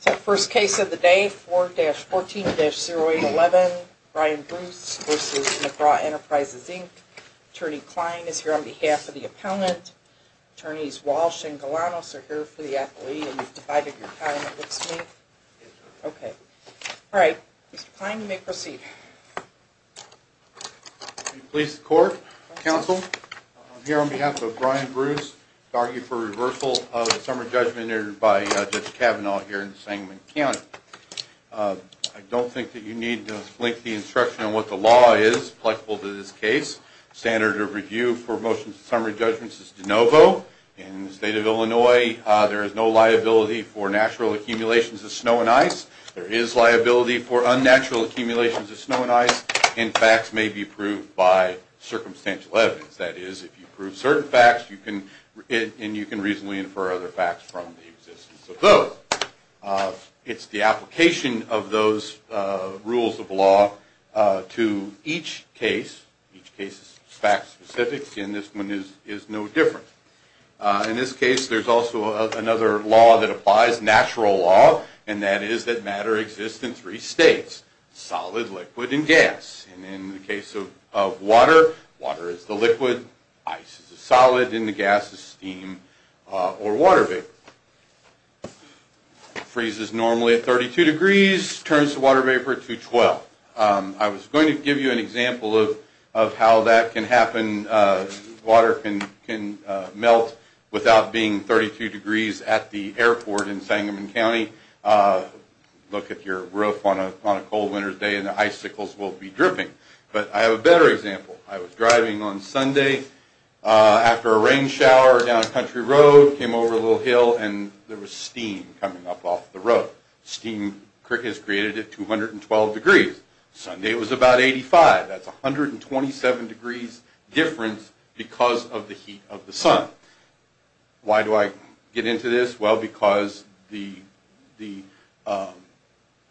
So first case of the day, 4-14-0811, Brian Bruce v. McGraw Enterprises, Inc. Attorney Klein is here on behalf of the appellant. Attorneys Walsh and Galanos are here for the athlete. And you've divided your time, it looks to me. Okay. Alright, Mr. Klein, you may proceed. Police, the court, counsel, I'm here on behalf of Brian Bruce to argue for reversal of the summary judgment entered by Judge Kavanaugh here in Sangamon County. I don't think that you need to flink the instruction on what the law is applicable to this case. Standard of review for motions and summary judgments is de novo. In the state of Illinois, there is no liability for natural accumulations of snow and ice. There is liability for unnatural accumulations of snow and ice, and facts may be proved by circumstantial evidence. That is, if you prove certain facts, and you can reasonably infer other facts from the existence of those. It's the application of those rules of law to each case. Each case is fact-specific, and this one is no different. In this case, there's also another law that applies, natural law, and that is that matter exists in three states, solid, liquid, and gas. And in the case of water, water is the liquid, ice is the solid, and the gas is steam or water vapor. Freezes normally at 32 degrees, turns the water vapor to 12. I was going to give you an example of how that can happen. Water can melt without being 32 degrees at the airport in Sangamon County. Look at your roof on a cold winter's day, and the icicles will be dripping. But I have a better example. I was driving on Sunday after a rain shower down Country Road, came over a little hill, and there was steam coming up off the road. Steam crickets created at 212 degrees. Sunday was about 85. That's 127 degrees difference because of the heat of the sun. Why do I get into this? Well, because the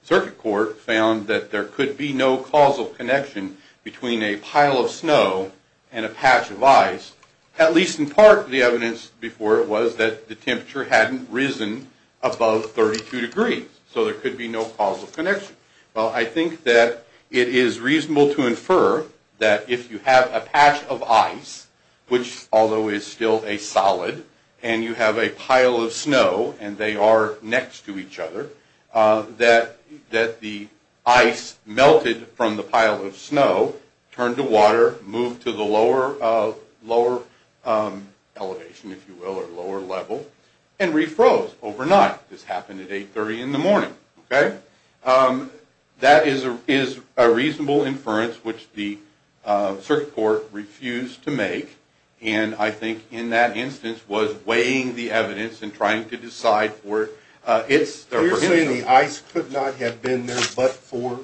circuit court found that there could be no causal connection between a pile of snow and a patch of ice. At least in part, the evidence before it was that the temperature hadn't risen above 32 degrees, so there could be no causal connection. Well, I think that it is reasonable to infer that if you have a patch of ice, which although is still a solid, and you have a pile of snow, and they are next to each other, that the ice melted from the pile of snow, turned to water, moved to the lower elevation, if you will, or lower level, and refroze overnight. This happened at 830 in the morning. That is a reasonable inference which the circuit court refused to make, and I think in that instance was weighing the evidence and trying to decide for it. You're saying the ice could not have been there but for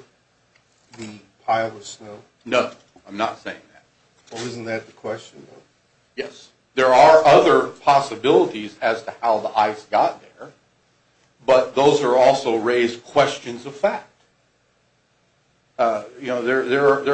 the pile of snow? No, I'm not saying that. Well, isn't that the question? Yes. There are other possibilities as to how the ice got there, but those are also raised questions of fact. There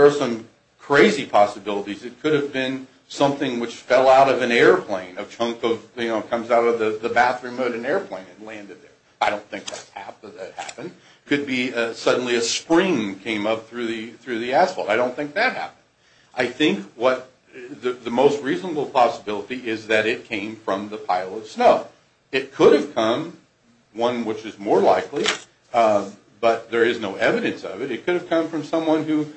are some crazy possibilities. It could have been something which fell out of an airplane, a chunk that comes out of the bathroom of an airplane and landed there. I don't think that happened. It could be suddenly a spring came up through the asphalt. I don't think that happened. Well, it could have come, one which is more likely, but there is no evidence of it. It could have come from someone who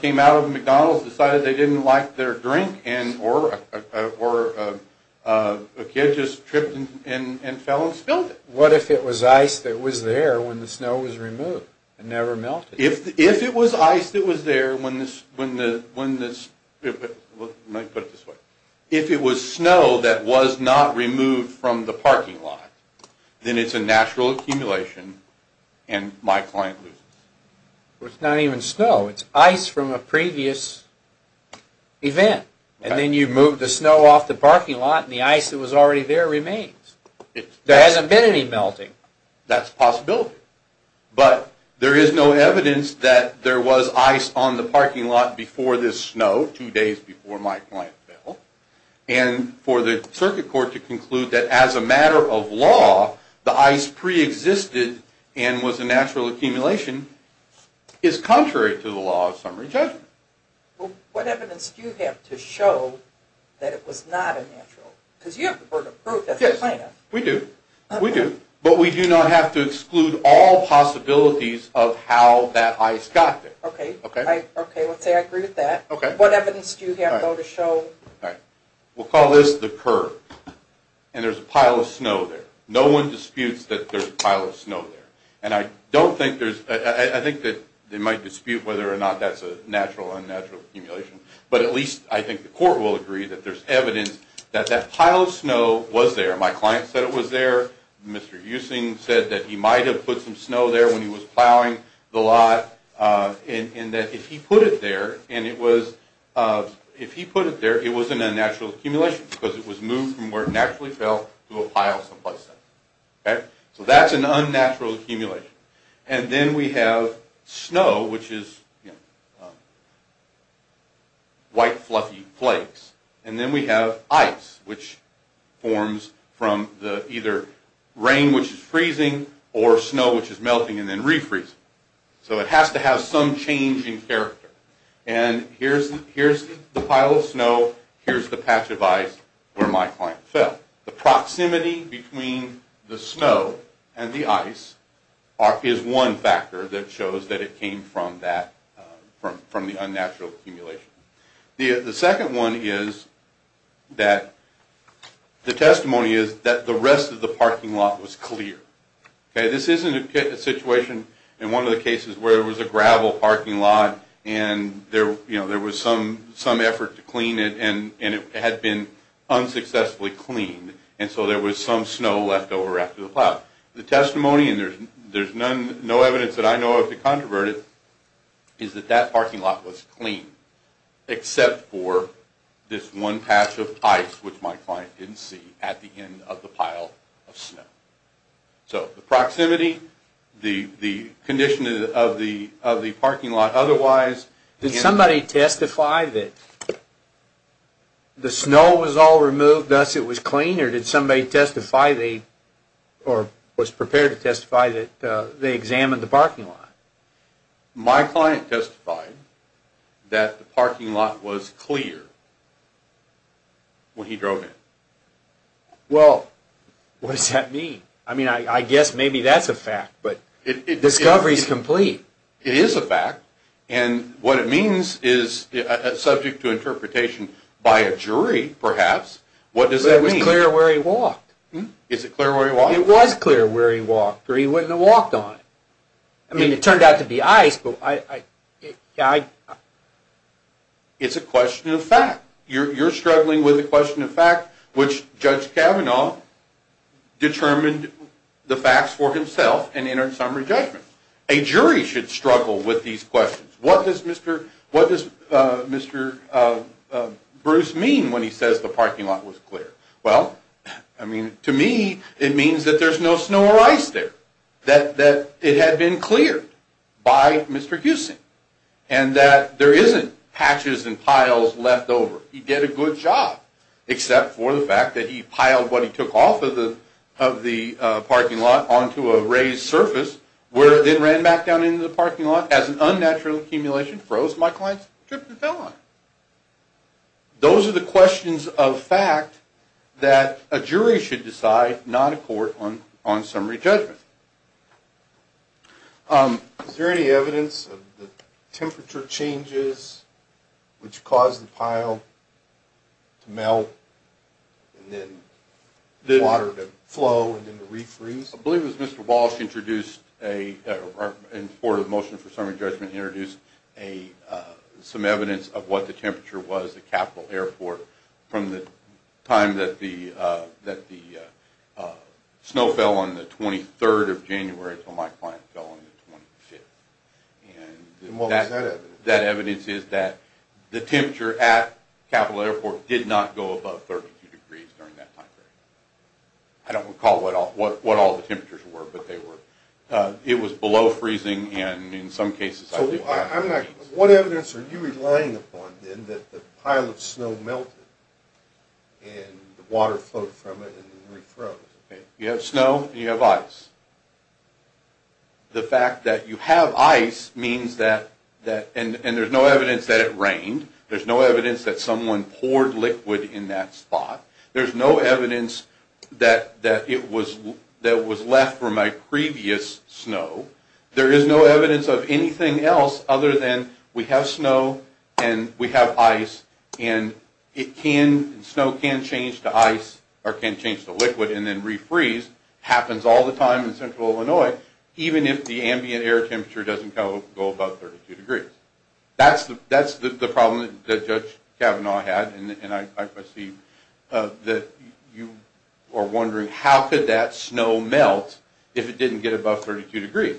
came out of a McDonald's, decided they didn't like their drink, or a kid just tripped and fell and spilled it. What if it was ice that was there when the snow was removed and never melted? If it was ice that was there when the – let me put it this way. If it was snow that was not removed from the parking lot, then it's a natural accumulation and my client loses. Well, it's not even snow. It's ice from a previous event, and then you move the snow off the parking lot and the ice that was already there remains. There hasn't been any melting. That's a possibility, but there is no evidence that there was ice on the parking lot before this snow, no two days before my client fell, and for the circuit court to conclude that as a matter of law, the ice preexisted and was a natural accumulation is contrary to the law of summary judgment. What evidence do you have to show that it was not a natural? Because you have the burden of proof as a plaintiff. Yes, we do. We do, but we do not have to exclude all possibilities of how that ice got there. Okay, let's say I agree with that. What evidence do you have to show? We'll call this the curve, and there's a pile of snow there. No one disputes that there's a pile of snow there, and I think they might dispute whether or not that's a natural or unnatural accumulation, but at least I think the court will agree that there's evidence that that pile of snow was there. My client said it was there. Mr. Eusing said that he might have put some snow there when he was plowing the lot, and that if he put it there, it was an unnatural accumulation because it was moved from where it naturally fell to a pile someplace else. So that's an unnatural accumulation. And then we have snow, which is white, fluffy flakes, and then we have ice, which forms from either rain, which is freezing, or snow, which is melting and then refreezing. So it has to have some change in character. And here's the pile of snow. Here's the patch of ice where my client fell. The proximity between the snow and the ice is one factor that shows that it came from the unnatural accumulation. The second one is that the testimony is that the rest of the parking lot was clear. This isn't a situation in one of the cases where there was a gravel parking lot and there was some effort to clean it and it had been unsuccessfully cleaned, and so there was some snow left over after the plow. The testimony, and there's no evidence that I know of that controverted, is that that parking lot was clean except for this one patch of ice, which my client didn't see, at the end of the pile of snow. So the proximity, the condition of the parking lot, otherwise... Did somebody testify that the snow was all removed, thus it was clean, or did somebody testify, or was prepared to testify, that they examined the parking lot? My client testified that the parking lot was clear when he drove in. Well, what does that mean? I mean, I guess maybe that's a fact, but the discovery is complete. It is a fact, and what it means is subject to interpretation by a jury, perhaps. What does that mean? But it was clear where he walked. Is it clear where he walked? It was clear where he walked, or he wouldn't have walked on it. I mean, it turned out to be ice, but I... It's a question of fact. You're struggling with a question of fact, which Judge Kavanaugh determined the facts for himself and entered summary judgment. A jury should struggle with these questions. What does Mr. Bruce mean when he says the parking lot was clear? Well, I mean, to me, it means that there's no snow or ice there, that it had been cleared by Mr. Houston, and that there isn't patches and piles left over. He did a good job, except for the fact that he piled what he took off of the parking lot onto a raised surface, then ran back down into the parking lot. As an unnatural accumulation froze, my client tripped and fell on it. Those are the questions of fact that a jury should decide, not a court, on summary judgment. Is there any evidence of the temperature changes which caused the pile to melt and then water to flow and then to refreeze? I believe it was Mr. Walsh, in support of the motion for summary judgment, introduced some evidence of what the temperature was at Capital Airport from the time that the snow fell on the 23rd of January until my client fell on the 25th. And what was that evidence? That evidence is that the temperature at Capital Airport did not go above 32 degrees during that time period. I don't recall what all the temperatures were, but they were. It was below freezing, and in some cases, I believe it was. What evidence are you relying upon, then, that the pile of snow melted and the water flowed from it and then refroze? You have snow and you have ice. The fact that you have ice means that – and there's no evidence that it rained. There's no evidence that someone poured liquid in that spot. There's no evidence that it was – that was left from my previous snow. There is no evidence of anything else other than we have snow and we have ice, and it can – snow can change to ice or can change to liquid and then refreeze. It happens all the time in central Illinois, even if the ambient air temperature doesn't go above 32 degrees. That's the problem that Judge Kavanaugh had, and I see that you are wondering, how could that snow melt if it didn't get above 32 degrees?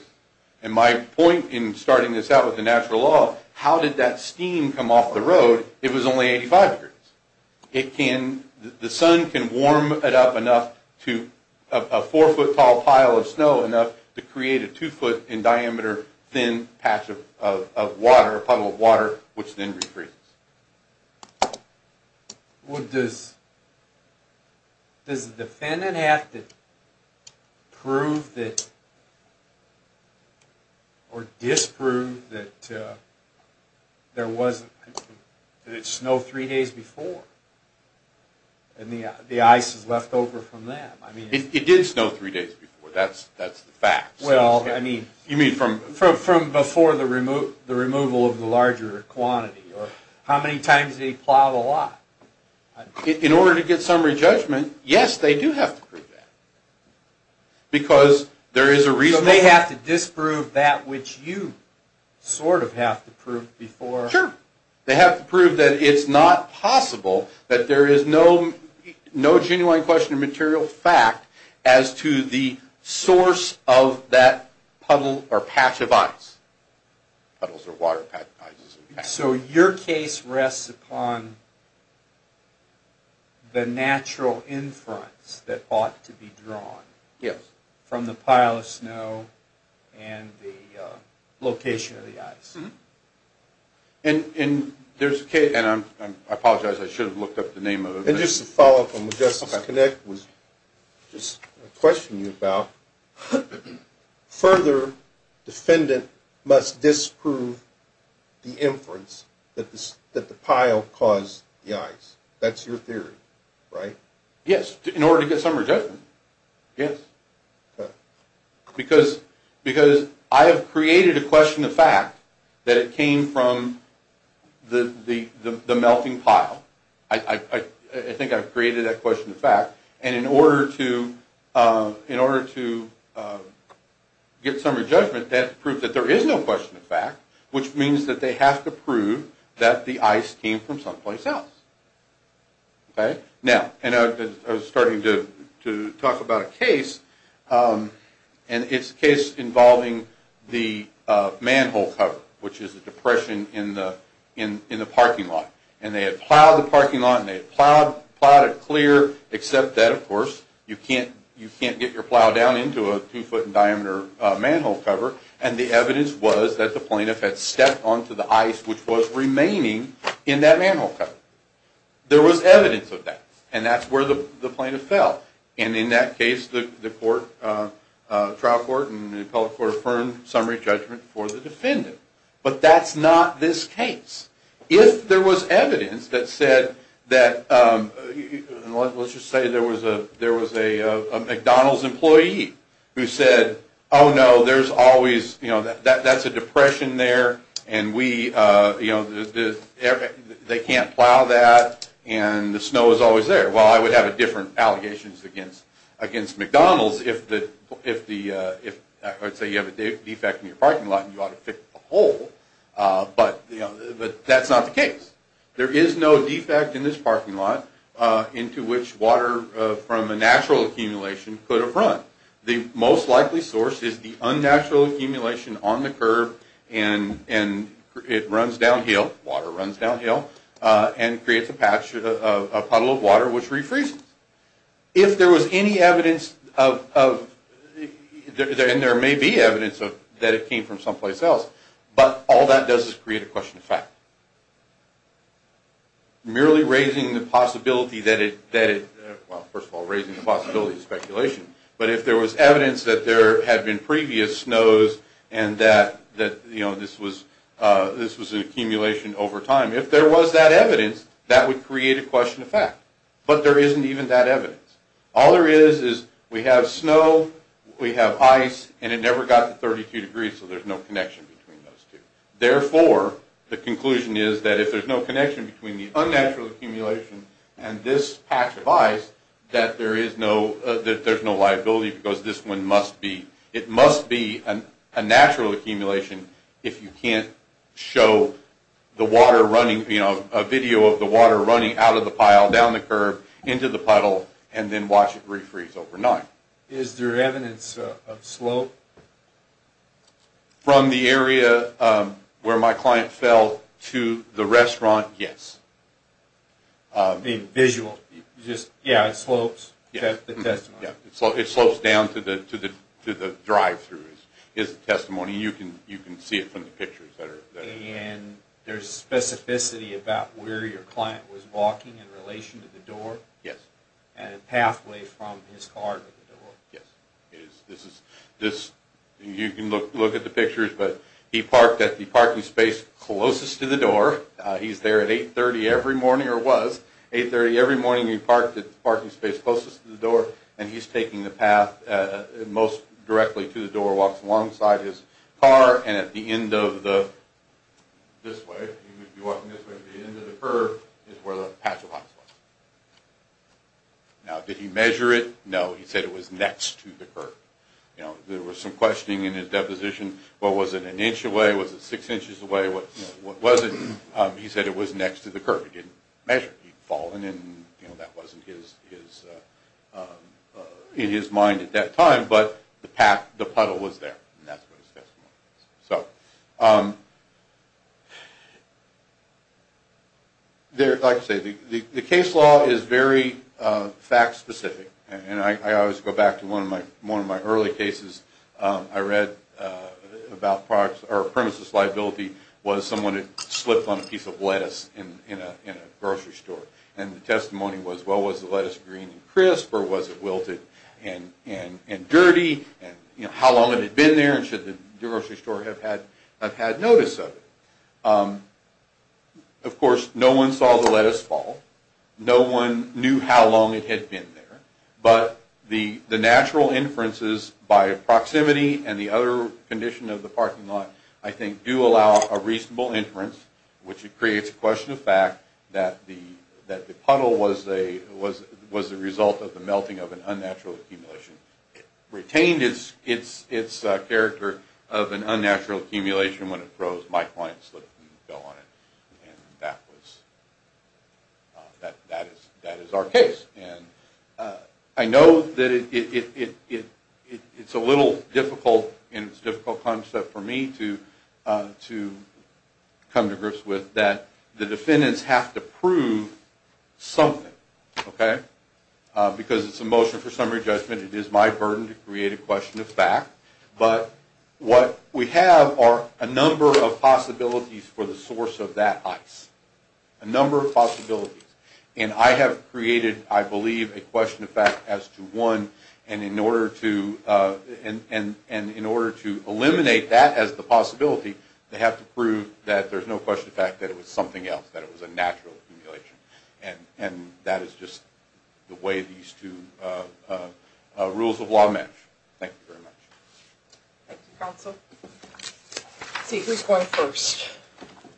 And my point in starting this out with the natural law, how did that steam come off the road if it was only 85 degrees? It can – the sun can warm it up enough to – a four-foot-tall pile of snow enough to create a two-foot-in-diameter thin patch of water, a puddle of water, which then refreezes. Well, does – does the defendant have to prove that – or disprove that there wasn't – that it snowed three days before, and the ice is left over from that? It did snow three days before. That's the fact. Well, I mean – You mean from before the removal of the larger quantity, or how many times did they plow the lot? In order to get summary judgment, yes, they do have to prove that, because there is a reasonable – So they have to disprove that which you sort of have to prove before – Sure. They have to prove that it's not possible that there is no genuine question of material fact as to the source of that puddle or patch of ice. Puddles or water patches of ice. So your case rests upon the natural inference that ought to be drawn from the pile of snow and the location of the ice. And there's a case – and I apologize, I should have looked up the name of it. And just to follow up on what Justice Connick was just questioning you about, further, defendant must disprove the inference that the pile caused the ice. That's your theory, right? Yes. In order to get summary judgment? Yes. Because I have created a question of fact that it came from the melting pile. I think I've created that question of fact. And in order to get summary judgment, they have to prove that there is no question of fact, which means that they have to prove that the ice came from someplace else. Okay? Now, and I was starting to talk about a case, and it's a case involving the manhole cover, which is a depression in the parking lot. And they had plowed the parking lot, and they had plowed it clear, except that, of course, you can't get your plow down into a two-foot-in-diameter manhole cover. And the evidence was that the plaintiff had stepped onto the ice, which was remaining in that manhole cover. There was evidence of that. And that's where the plaintiff fell. And in that case, the trial court and the appellate court affirmed summary judgment for the defendant. But that's not this case. If there was evidence that said that, let's just say there was a McDonald's employee who said, oh, no, there's always, you know, that's a depression there, and we, you know, they can't plow that, and the snow is always there. Well, I would have a different allegations against McDonald's if the, if the, I would say you have a defect in your parking lot, and you ought to fix the hole. But, you know, that's not the case. There is no defect in this parking lot into which water from a natural accumulation could have run. The most likely source is the unnatural accumulation on the curb, and it runs downhill, water runs downhill, and creates a patch, a puddle of water, which refreezes. If there was any evidence of, and there may be evidence that it came from someplace else, but all that does is create a question of fact. Merely raising the possibility that it, well, first of all, raising the possibility of speculation, but if there was evidence that there had been previous snows and that, you know, this was an accumulation over time, if there was that evidence, that would create a question of fact. But there isn't even that evidence. All there is is we have snow, we have ice, and it never got to 32 degrees, so there's no connection between those two. Therefore, the conclusion is that if there's no connection between the unnatural accumulation and this patch of ice, that there is no, that there's no liability because this one must be, it must be a natural accumulation if you can't show the water running, you know, a video of the water running out of the pile, down the curb, into the puddle, and then watch it refreeze overnight. Is there evidence of slope? From the area where my client fell to the restaurant, yes. The visual, just, yeah, it slopes, the testimony. Yeah, it slopes down to the drive-through is the testimony. You can see it from the pictures that are there. And there's specificity about where your client was walking in relation to the door? And a pathway from his car to the door? Yes, it is. This is, this, you can look at the pictures, but he parked at the parking space closest to the door. He's there at 8.30 every morning, or was. 8.30 every morning, he parked at the parking space closest to the door, and he's taking the path most directly to the door, walks alongside his car, and at the end of the, this way, he would be walking this way, but the end of the curb is where the patch of ice was. Now, did he measure it? No, he said it was next to the curb. You know, there was some questioning in his deposition. Well, was it an inch away? Was it six inches away? What was it? He said it was next to the curb. He didn't measure it. He'd fallen, and, you know, that wasn't his, in his mind at that time, but the path, the puddle was there, and that's what his testimony is. So, there, like I say, the case law is very fact-specific, and I always go back to one of my early cases I read about products, or premises liability was someone had slipped on a piece of lettuce in a grocery store, and the testimony was, well, was the lettuce green and crisp, or was it wilted and dirty, and, you know, how long had it been there, and should the grocery store have had notice of it? Of course, no one saw the lettuce fall. No one knew how long it had been there, but the natural inferences by proximity and the other condition of the parking lot, I think, do allow a reasonable inference, which creates a question of fact that the puddle was the result of the melting of an unnatural accumulation. It retained its character of an unnatural accumulation when it froze. My client slipped and fell on it, and that was, that is our case, and I know that it's a little difficult, and it's a difficult concept for me to come to grips with, that the defendants have to prove something, okay, because it's a motion for summary judgment. It is my burden to create a question of fact, but what we have are a number of possibilities for the source of that ice, a number of possibilities, and I have created, I believe, a question of fact as to one, and in order to eliminate that as the possibility, they have to prove that there's no question of fact that it was something else, that it was a natural accumulation, and that is just the way these two rules of law match. Thank you very much. Thank you, counsel. Let's see, who's going first?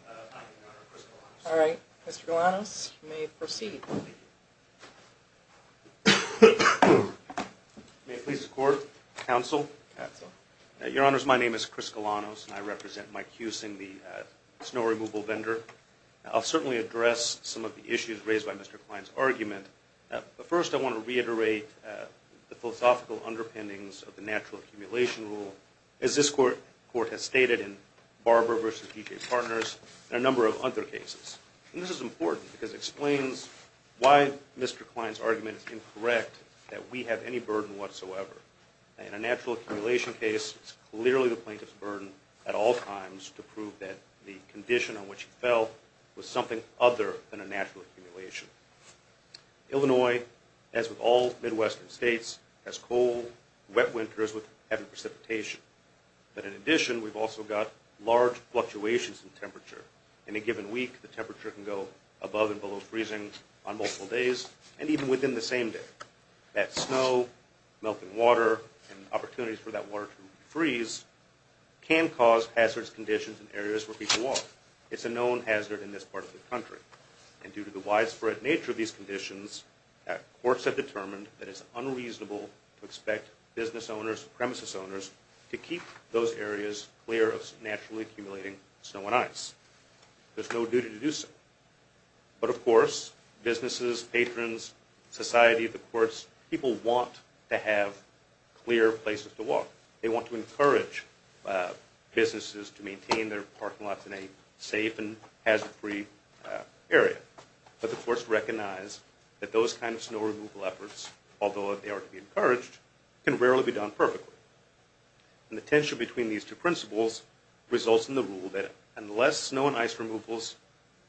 Your Honor, Chris Galanos. All right. Mr. Galanos, you may proceed. May it please the Court, counsel. Counsel. Your Honors, my name is Chris Galanos, and I represent Mike Husing, the snow removal vendor. I'll certainly address some of the issues raised by Mr. Klein's argument, but first I want to reiterate the philosophical underpinnings of the natural accumulation rule, as this Court has stated in Barber v. DJ Partners and a number of other cases, and this is important because it explains why Mr. Klein's argument is incorrect that we have any burden whatsoever. In a natural accumulation case, it's clearly the plaintiff's burden at all times to prove that the condition on which he fell was something other than a natural accumulation. Illinois, as with all Midwestern states, has cold, wet winters with heavy precipitation. But in addition, we've also got large fluctuations in temperature. In a given week, the temperature can go above and below freezing on multiple days and even within the same day. That snow, melting water, and opportunities for that water to freeze can cause hazardous conditions in areas where people walk. It's a known hazard in this part of the country, and due to the widespread nature of these conditions, courts have determined that it's unreasonable to expect business owners, premises owners, to keep those areas clear of naturally accumulating snow and ice. There's no duty to do so. But of course, businesses, patrons, society, the courts, people want to have clear places to walk. They want to encourage businesses to maintain their parking lots in a safe and hazard-free area. But the courts recognize that those kinds of snow removal efforts, although they are to be encouraged, can rarely be done perfectly. And the tension between these two principles results in the rule that unless snow and ice removal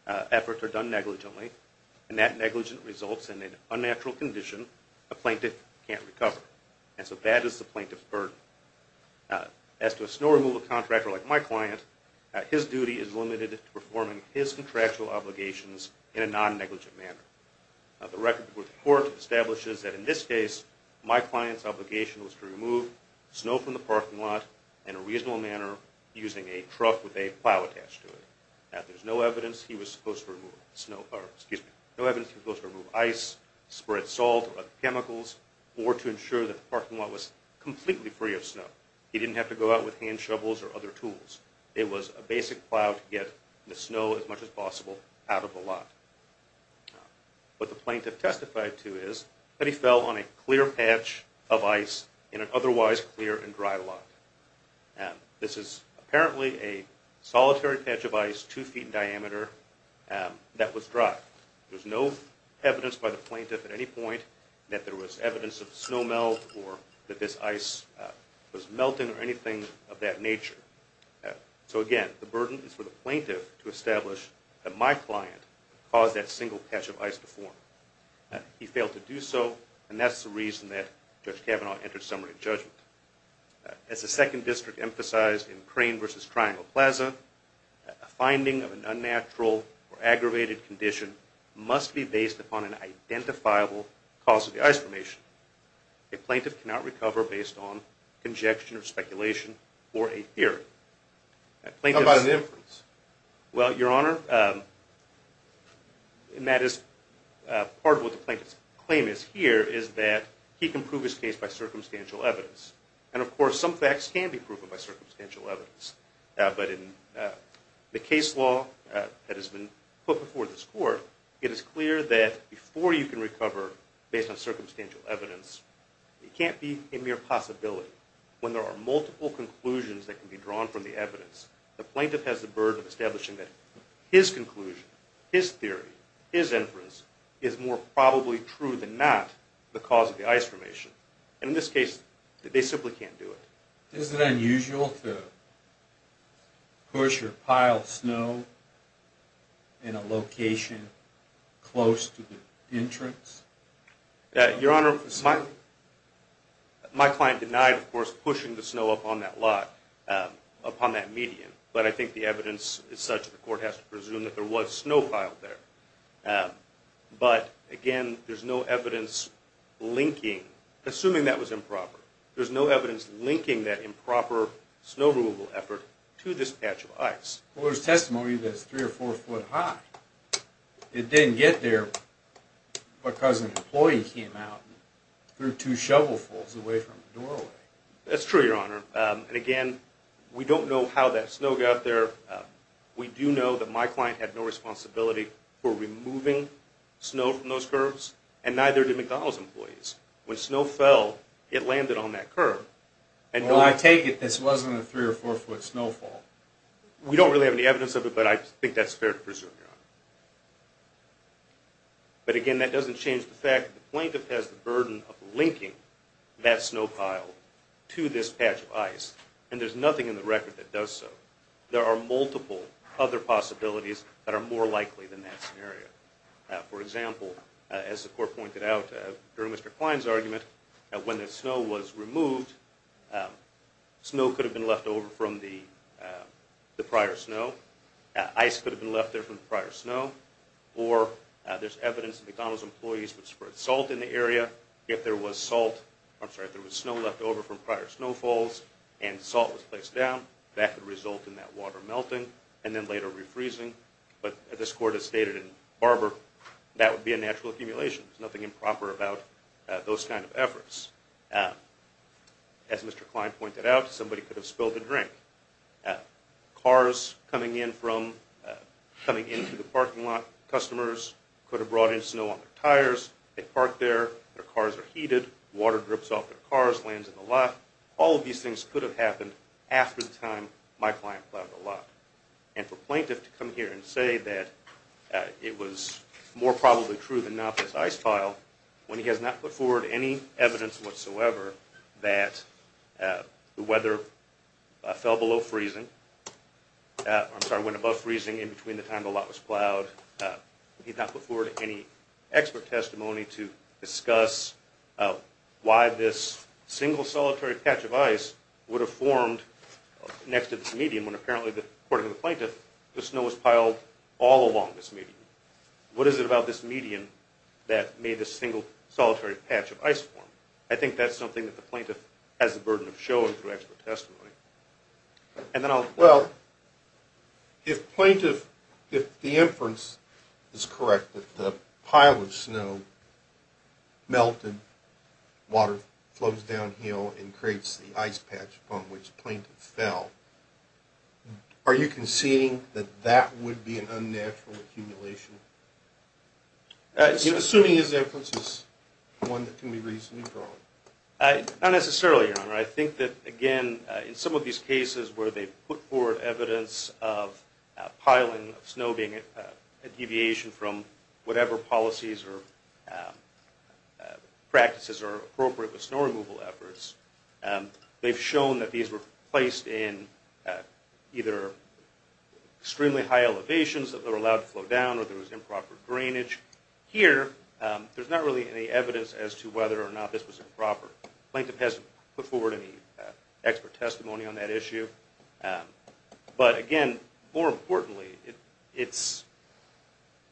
efforts are done negligently, and that negligence results in an unnatural condition, a plaintiff can't recover. And so that is the plaintiff's burden. As to a snow removal contractor like my client, his duty is limited to performing his contractual obligations in a non-negligent manner. The record before the court establishes that in this case, my client's obligation was to remove snow from the parking lot in a reasonable manner using a trough with a plow attached to it. Now, there's no evidence he was supposed to remove ice, spread salt, or other chemicals, or to ensure that the parking lot was completely free of snow. He didn't have to go out with hand shovels or other tools. It was a basic plow to get the snow, as much as possible, out of the lot. What the plaintiff testified to is that he fell on a clear patch of ice in an otherwise clear and dry lot. This is apparently a solitary patch of ice, two feet in diameter, that was dry. There's no evidence by the plaintiff at any point that there was evidence of snow melt or that this ice was melting or anything of that nature. So, again, the burden is for the plaintiff to establish that my client caused that single patch of ice to form. He failed to do so, and that's the reason that Judge Kavanaugh entered summary of judgment. As the Second District emphasized in Crane v. Triangle Plaza, a finding of an unnatural or aggravated condition must be based upon an identifiable cause of the ice formation. A plaintiff cannot recover based on conjecture or speculation or a theory. How about an inference? Well, Your Honor, part of what the plaintiff's claim is here is that he can prove his case by circumstantial evidence. And, of course, some facts can be proven by circumstantial evidence. But in the case law that has been put before this Court, it is clear that before you can recover based on circumstantial evidence, it can't be a mere possibility. When there are multiple conclusions that can be drawn from the evidence, the plaintiff has the burden of establishing that his conclusion, his theory, his inference, is more probably true than not the cause of the ice formation. And in this case, they simply can't do it. Is it unusual to push or pile snow in a location close to the entrance? Your Honor, my client denied, of course, pushing the snow up on that lot upon that median. But I think the evidence is such that the Court has to presume that there was snow piled there. But, again, there's no evidence linking, assuming that was improper, there's no evidence linking that improper snow removal effort to this patch of ice. Well, there's testimony that it's three or four foot high. It didn't get there because an employee came out and threw two shovelfuls away from the doorway. That's true, Your Honor. And, again, we don't know how that snow got there. We do know that my client had no responsibility for removing snow from those curves, and neither did McDonald's employees. When snow fell, it landed on that curve. Well, I take it this wasn't a three or four foot snowfall. We don't really have any evidence of it, but I think that's fair to presume, Your Honor. But, again, that doesn't change the fact that the plaintiff has the burden of linking that snow pile to this patch of ice, and there's nothing in the record that does so. There are multiple other possibilities that are more likely than that scenario. For example, as the court pointed out during Mr. Klein's argument, when the snow was removed, snow could have been left over from the prior snow. Ice could have been left there from the prior snow. Or there's evidence that McDonald's employees would spread salt in the area. If there was snow left over from prior snowfalls and salt was placed down, that could result in that water melting and then later refreezing. But as this court has stated in Barber, that would be a natural accumulation. There's nothing improper about those kind of efforts. As Mr. Klein pointed out, somebody could have spilled a drink. Cars coming into the parking lot, customers could have brought in snow on their tires, they parked there, their cars are heated, water drips off their cars, lands in the lot. All of these things could have happened after the time my client plowed the lot. And for a plaintiff to come here and say that it was more probably true than not that this ice piled, when he has not put forward any evidence whatsoever that the weather fell below freezing, I'm sorry, went above freezing in between the time the lot was plowed, he's not put forward any expert testimony to discuss why this single solitary patch of ice would have formed next to this median when apparently, according to the plaintiff, the snow was piled all along this median. What is it about this median that made this single solitary patch of ice form? I think that's something that the plaintiff has the burden of showing through expert testimony. Well, if plaintiff, if the inference is correct that the pile of snow melted, water flows downhill and creates the ice patch upon which plaintiff fell, are you conceding that that would be an unnatural accumulation? Assuming his inference is one that can be reasonably drawn. Not necessarily, Your Honor. I think that, again, in some of these cases where they put forward evidence of piling, snow being a deviation from whatever policies or practices are appropriate with snow removal efforts, they've shown that these were placed in either extremely high elevations that were allowed to flow down or there was improper drainage. Here, there's not really any evidence as to whether or not this was improper. Plaintiff hasn't put forward any expert testimony on that issue. But, again, more importantly,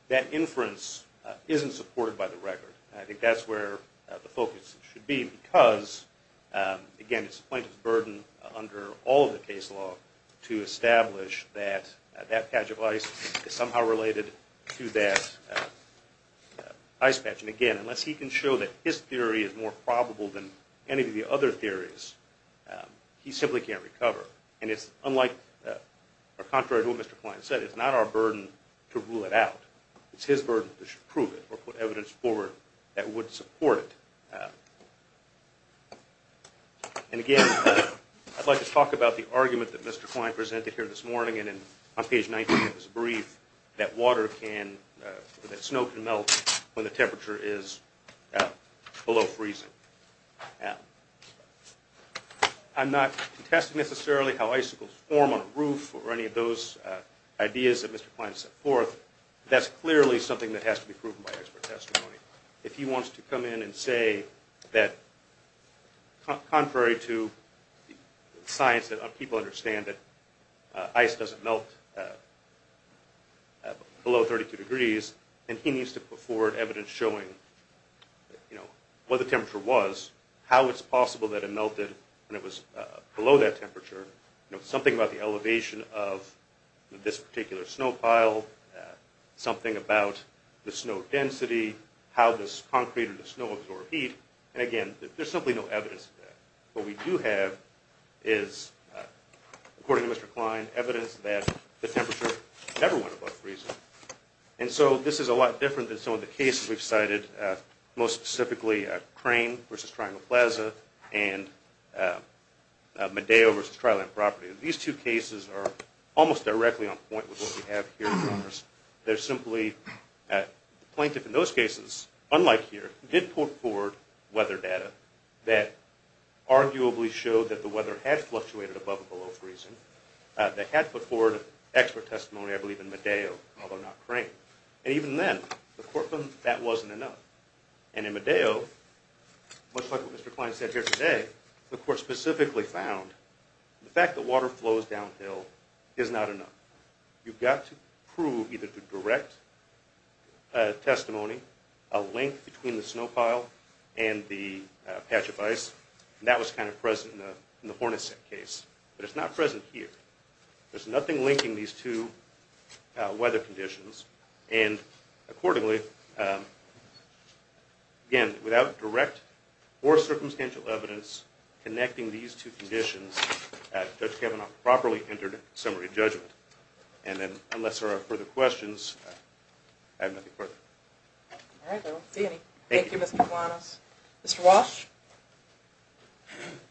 that inference isn't supported by the record. I think that's where the focus should be because, again, it's the plaintiff's burden under all of the case law to establish that that patch of ice is somehow related to that ice patch. And, again, unless he can show that his theory is more probable than any of the other theories, he simply can't recover. And it's unlike or contrary to what Mr. Klein said. It's not our burden to rule it out. It's his burden to prove it or put evidence forward that would support it. And, again, I'd like to talk about the argument that Mr. Klein presented here this morning. And on page 19 of his brief, that water can, that snow can melt when the temperature is below freezing. I'm not contesting necessarily how icicles form on a roof or any of those ideas that Mr. Klein set forth. That's clearly something that has to be proven by expert testimony. If he wants to come in and say that, contrary to science that people understand that ice doesn't melt below 32 degrees, then he needs to put forward evidence showing what the temperature was, how it's possible that it melted when it was below that temperature, something about the elevation of this particular snow pile, something about the snow density, how this concrete or the snow absorbed heat. And, again, there's simply no evidence of that. What we do have is, according to Mr. Klein, evidence that the temperature never went above freezing. And so this is a lot different than some of the cases we've cited, most specifically Crane v. Triangle Plaza and Medeo v. Tri-Land Property. These two cases are almost directly on point with what we have here in Congress. They're simply plaintiff in those cases, unlike here, did put forward weather data that arguably showed that the weather had fluctuated above and below freezing. They had put forward expert testimony, I believe, in Medeo, although not Crane. And even then, the court found that wasn't enough. And in Medeo, much like what Mr. Klein said here today, the court specifically found the fact that water flows downhill is not enough. You've got to prove either the direct testimony, a link between the snow pile and the patch of ice, and that was kind of present in the Hornacek case, but it's not present here. There's nothing linking these two weather conditions. And accordingly, again, without direct or circumstantial evidence connecting these two conditions, Judge Kavanaugh properly entered a summary judgment. And then, unless there are further questions, I have nothing further. All right, I don't see any. Thank you, Mr. Kavanaugh. Mr. Walsh?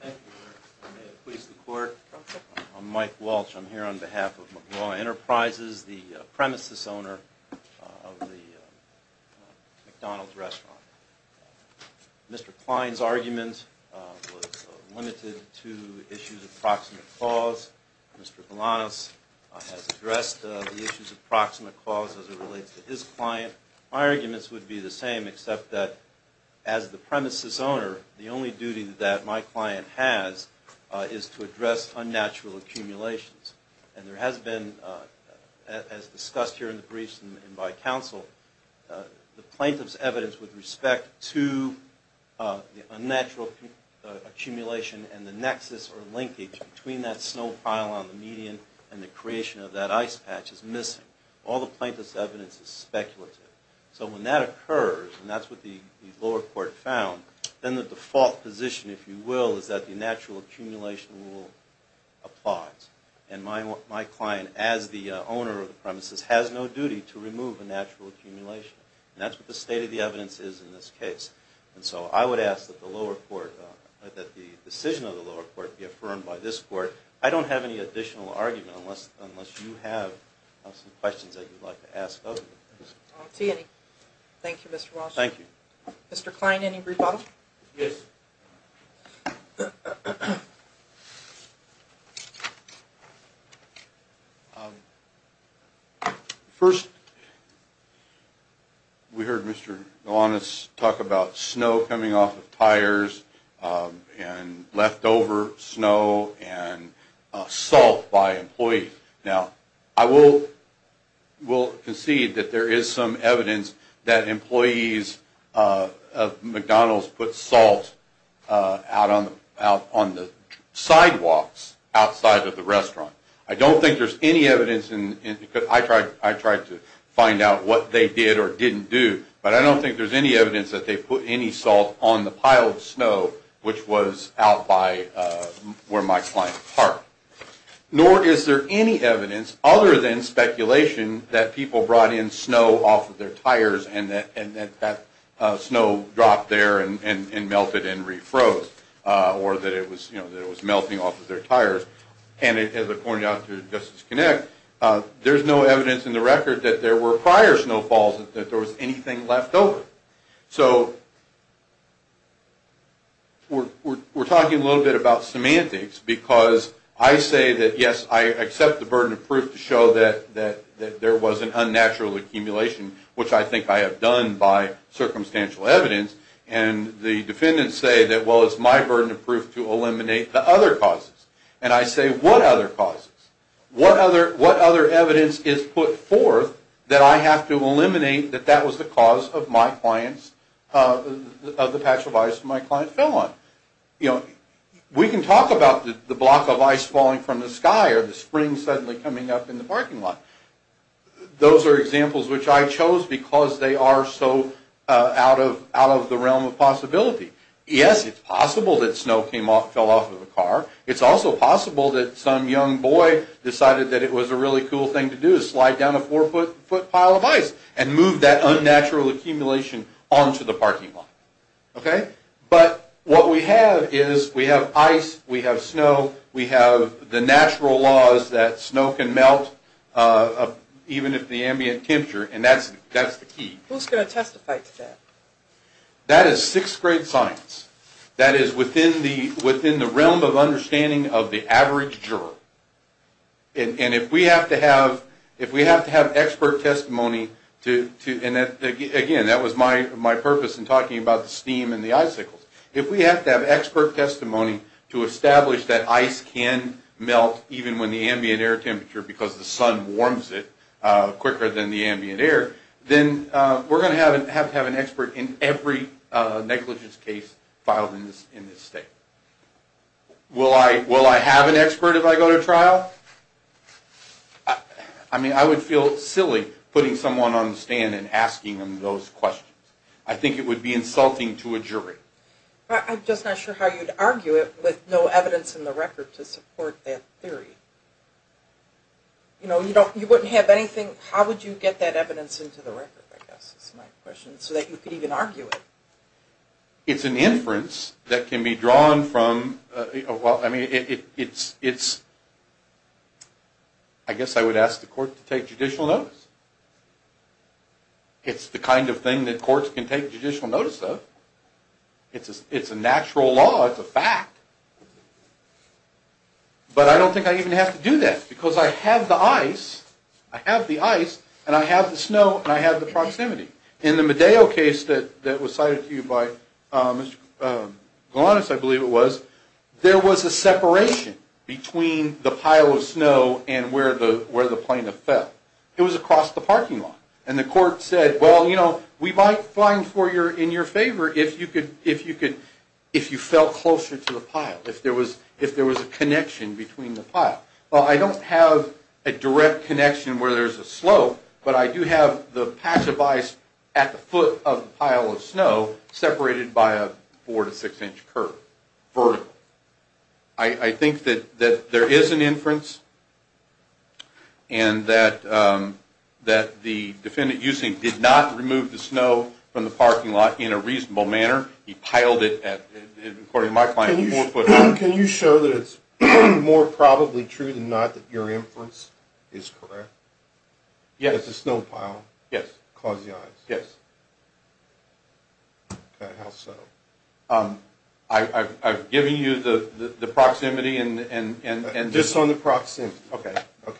Thank you, Your Honor. May it please the court, I'm Mike Walsh. I'm here on behalf of McGraw Enterprises, the premises owner of the McDonald's restaurant. Mr. Klein's argument was limited to issues of proximate cause. Mr. Galanis has addressed the issues of proximate cause as it relates to his client. My arguments would be the same, except that as the premises owner, the only duty that my client has is to address unnatural accumulations. And there has been, as discussed here in the briefs and by counsel, the plaintiff's evidence with respect to the unnatural accumulation and the nexus or linkage between that snow pile on the median and the creation of that ice patch is missing. All the plaintiff's evidence is speculative. So when that occurs, and that's what the lower court found, then the default position, if you will, is that the natural accumulation rule applies. And my client, as the owner of the premises, has no duty to remove a natural accumulation. And that's what the state of the evidence is in this case. And so I would ask that the decision of the lower court be affirmed by this court. I don't have any additional argument unless you have some questions that you'd like to ask others. I don't see any. Thank you, Mr. Walsh. Thank you. Mr. Kline, any rebuttal? Yes. First, we heard Mr. Nolanas talk about snow coming off of tires and leftover snow and salt by employees. Now, I will concede that there is some evidence that employees of McDonald's put salt out on the sidewalks outside of the restaurant. I don't think there's any evidence, because I tried to find out what they did or didn't do, but I don't think there's any evidence that they put any salt on the pile of snow which was out by where my client parked. Nor is there any evidence other than speculation that people brought in snow off of their tires and that that snow dropped there and melted and re-froze, or that it was melting off of their tires. And according to Justice Connect, there's no evidence in the record that there were prior snowfalls, that there was anything left over. So, we're talking a little bit about semantics, because I say that, yes, I accept the burden of proof to show that there was an unnatural accumulation, which I think I have done by circumstantial evidence. And the defendants say that, well, it's my burden of proof to eliminate the other causes. And I say, what other causes? What other evidence is put forth that I have to eliminate that that was the cause of my client's, of the patch of ice my client fell on? You know, we can talk about the block of ice falling from the sky or the spring suddenly coming up in the parking lot. Those are examples which I chose because they are so out of the realm of possibility. Yes, it's possible that snow fell off of a car. It's also possible that some young boy decided that it was a really cool thing to do, to slide down a four-foot pile of ice and move that unnatural accumulation onto the parking lot. Okay? But what we have is we have ice, we have snow, we have the natural laws that snow can melt even at the ambient temperature, and that's the key. Who's going to testify to that? That is sixth-grade science. That is within the realm of understanding of the average juror. And if we have to have expert testimony to, and again, that was my purpose in talking about the steam and the icicles. If we have to have expert testimony to establish that ice can melt even when the ambient air temperature, because the sun warms it quicker than the ambient air, then we're going to have to have an expert in every negligence case filed in this state. Will I have an expert if I go to trial? I mean, I would feel silly putting someone on the stand and asking them those questions. I think it would be insulting to a jury. I'm just not sure how you'd argue it with no evidence in the record to support that theory. You know, you wouldn't have anything. How would you get that evidence into the record, I guess is my question, so that you could even argue it? It's an inference that can be drawn from, well, I mean, it's, I guess I would ask the court to take judicial notice. It's the kind of thing that courts can take judicial notice of. It's a natural law. It's a fact. But I don't think I even have to do that, because I have the ice, I have the ice, and I have the snow, and I have the proximity. In the Medeo case that was cited to you by Mr. Galanis, I believe it was, there was a separation between the pile of snow and where the plaintiff fell. It was across the parking lot. And the court said, well, you know, we might find in your favor if you fell closer to the pile, if there was a connection between the pile. Well, I don't have a direct connection where there's a slope, but I do have the patch of ice at the foot of the pile of snow, separated by a four- to six-inch curve, vertical. I think that there is an inference and that the defendant, you think, did not remove the snow from the parking lot in a reasonable manner. He piled it at, according to my client, four foot. Can you show that it's more probably true than not that your inference is correct? Yes. It's a snow pile. Yes. Close the ice. Yes. Okay, how so? I've given you the proximity and... Just on the proximity. Okay.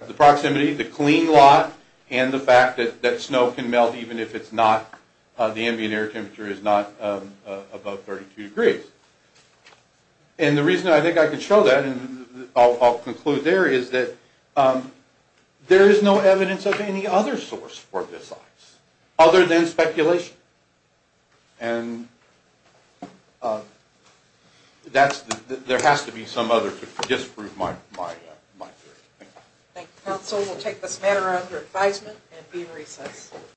The proximity, the clean lot, and the fact that snow can melt even if it's not, the ambient air temperature is not above 32 degrees. And the reason I think I can show that, and I'll conclude there, is that there is no evidence of any other source for this ice, other than speculation. And there has to be some other to disprove my theory. Thank you. Thank you, counsel. We'll take this matter under advisement and be in recess.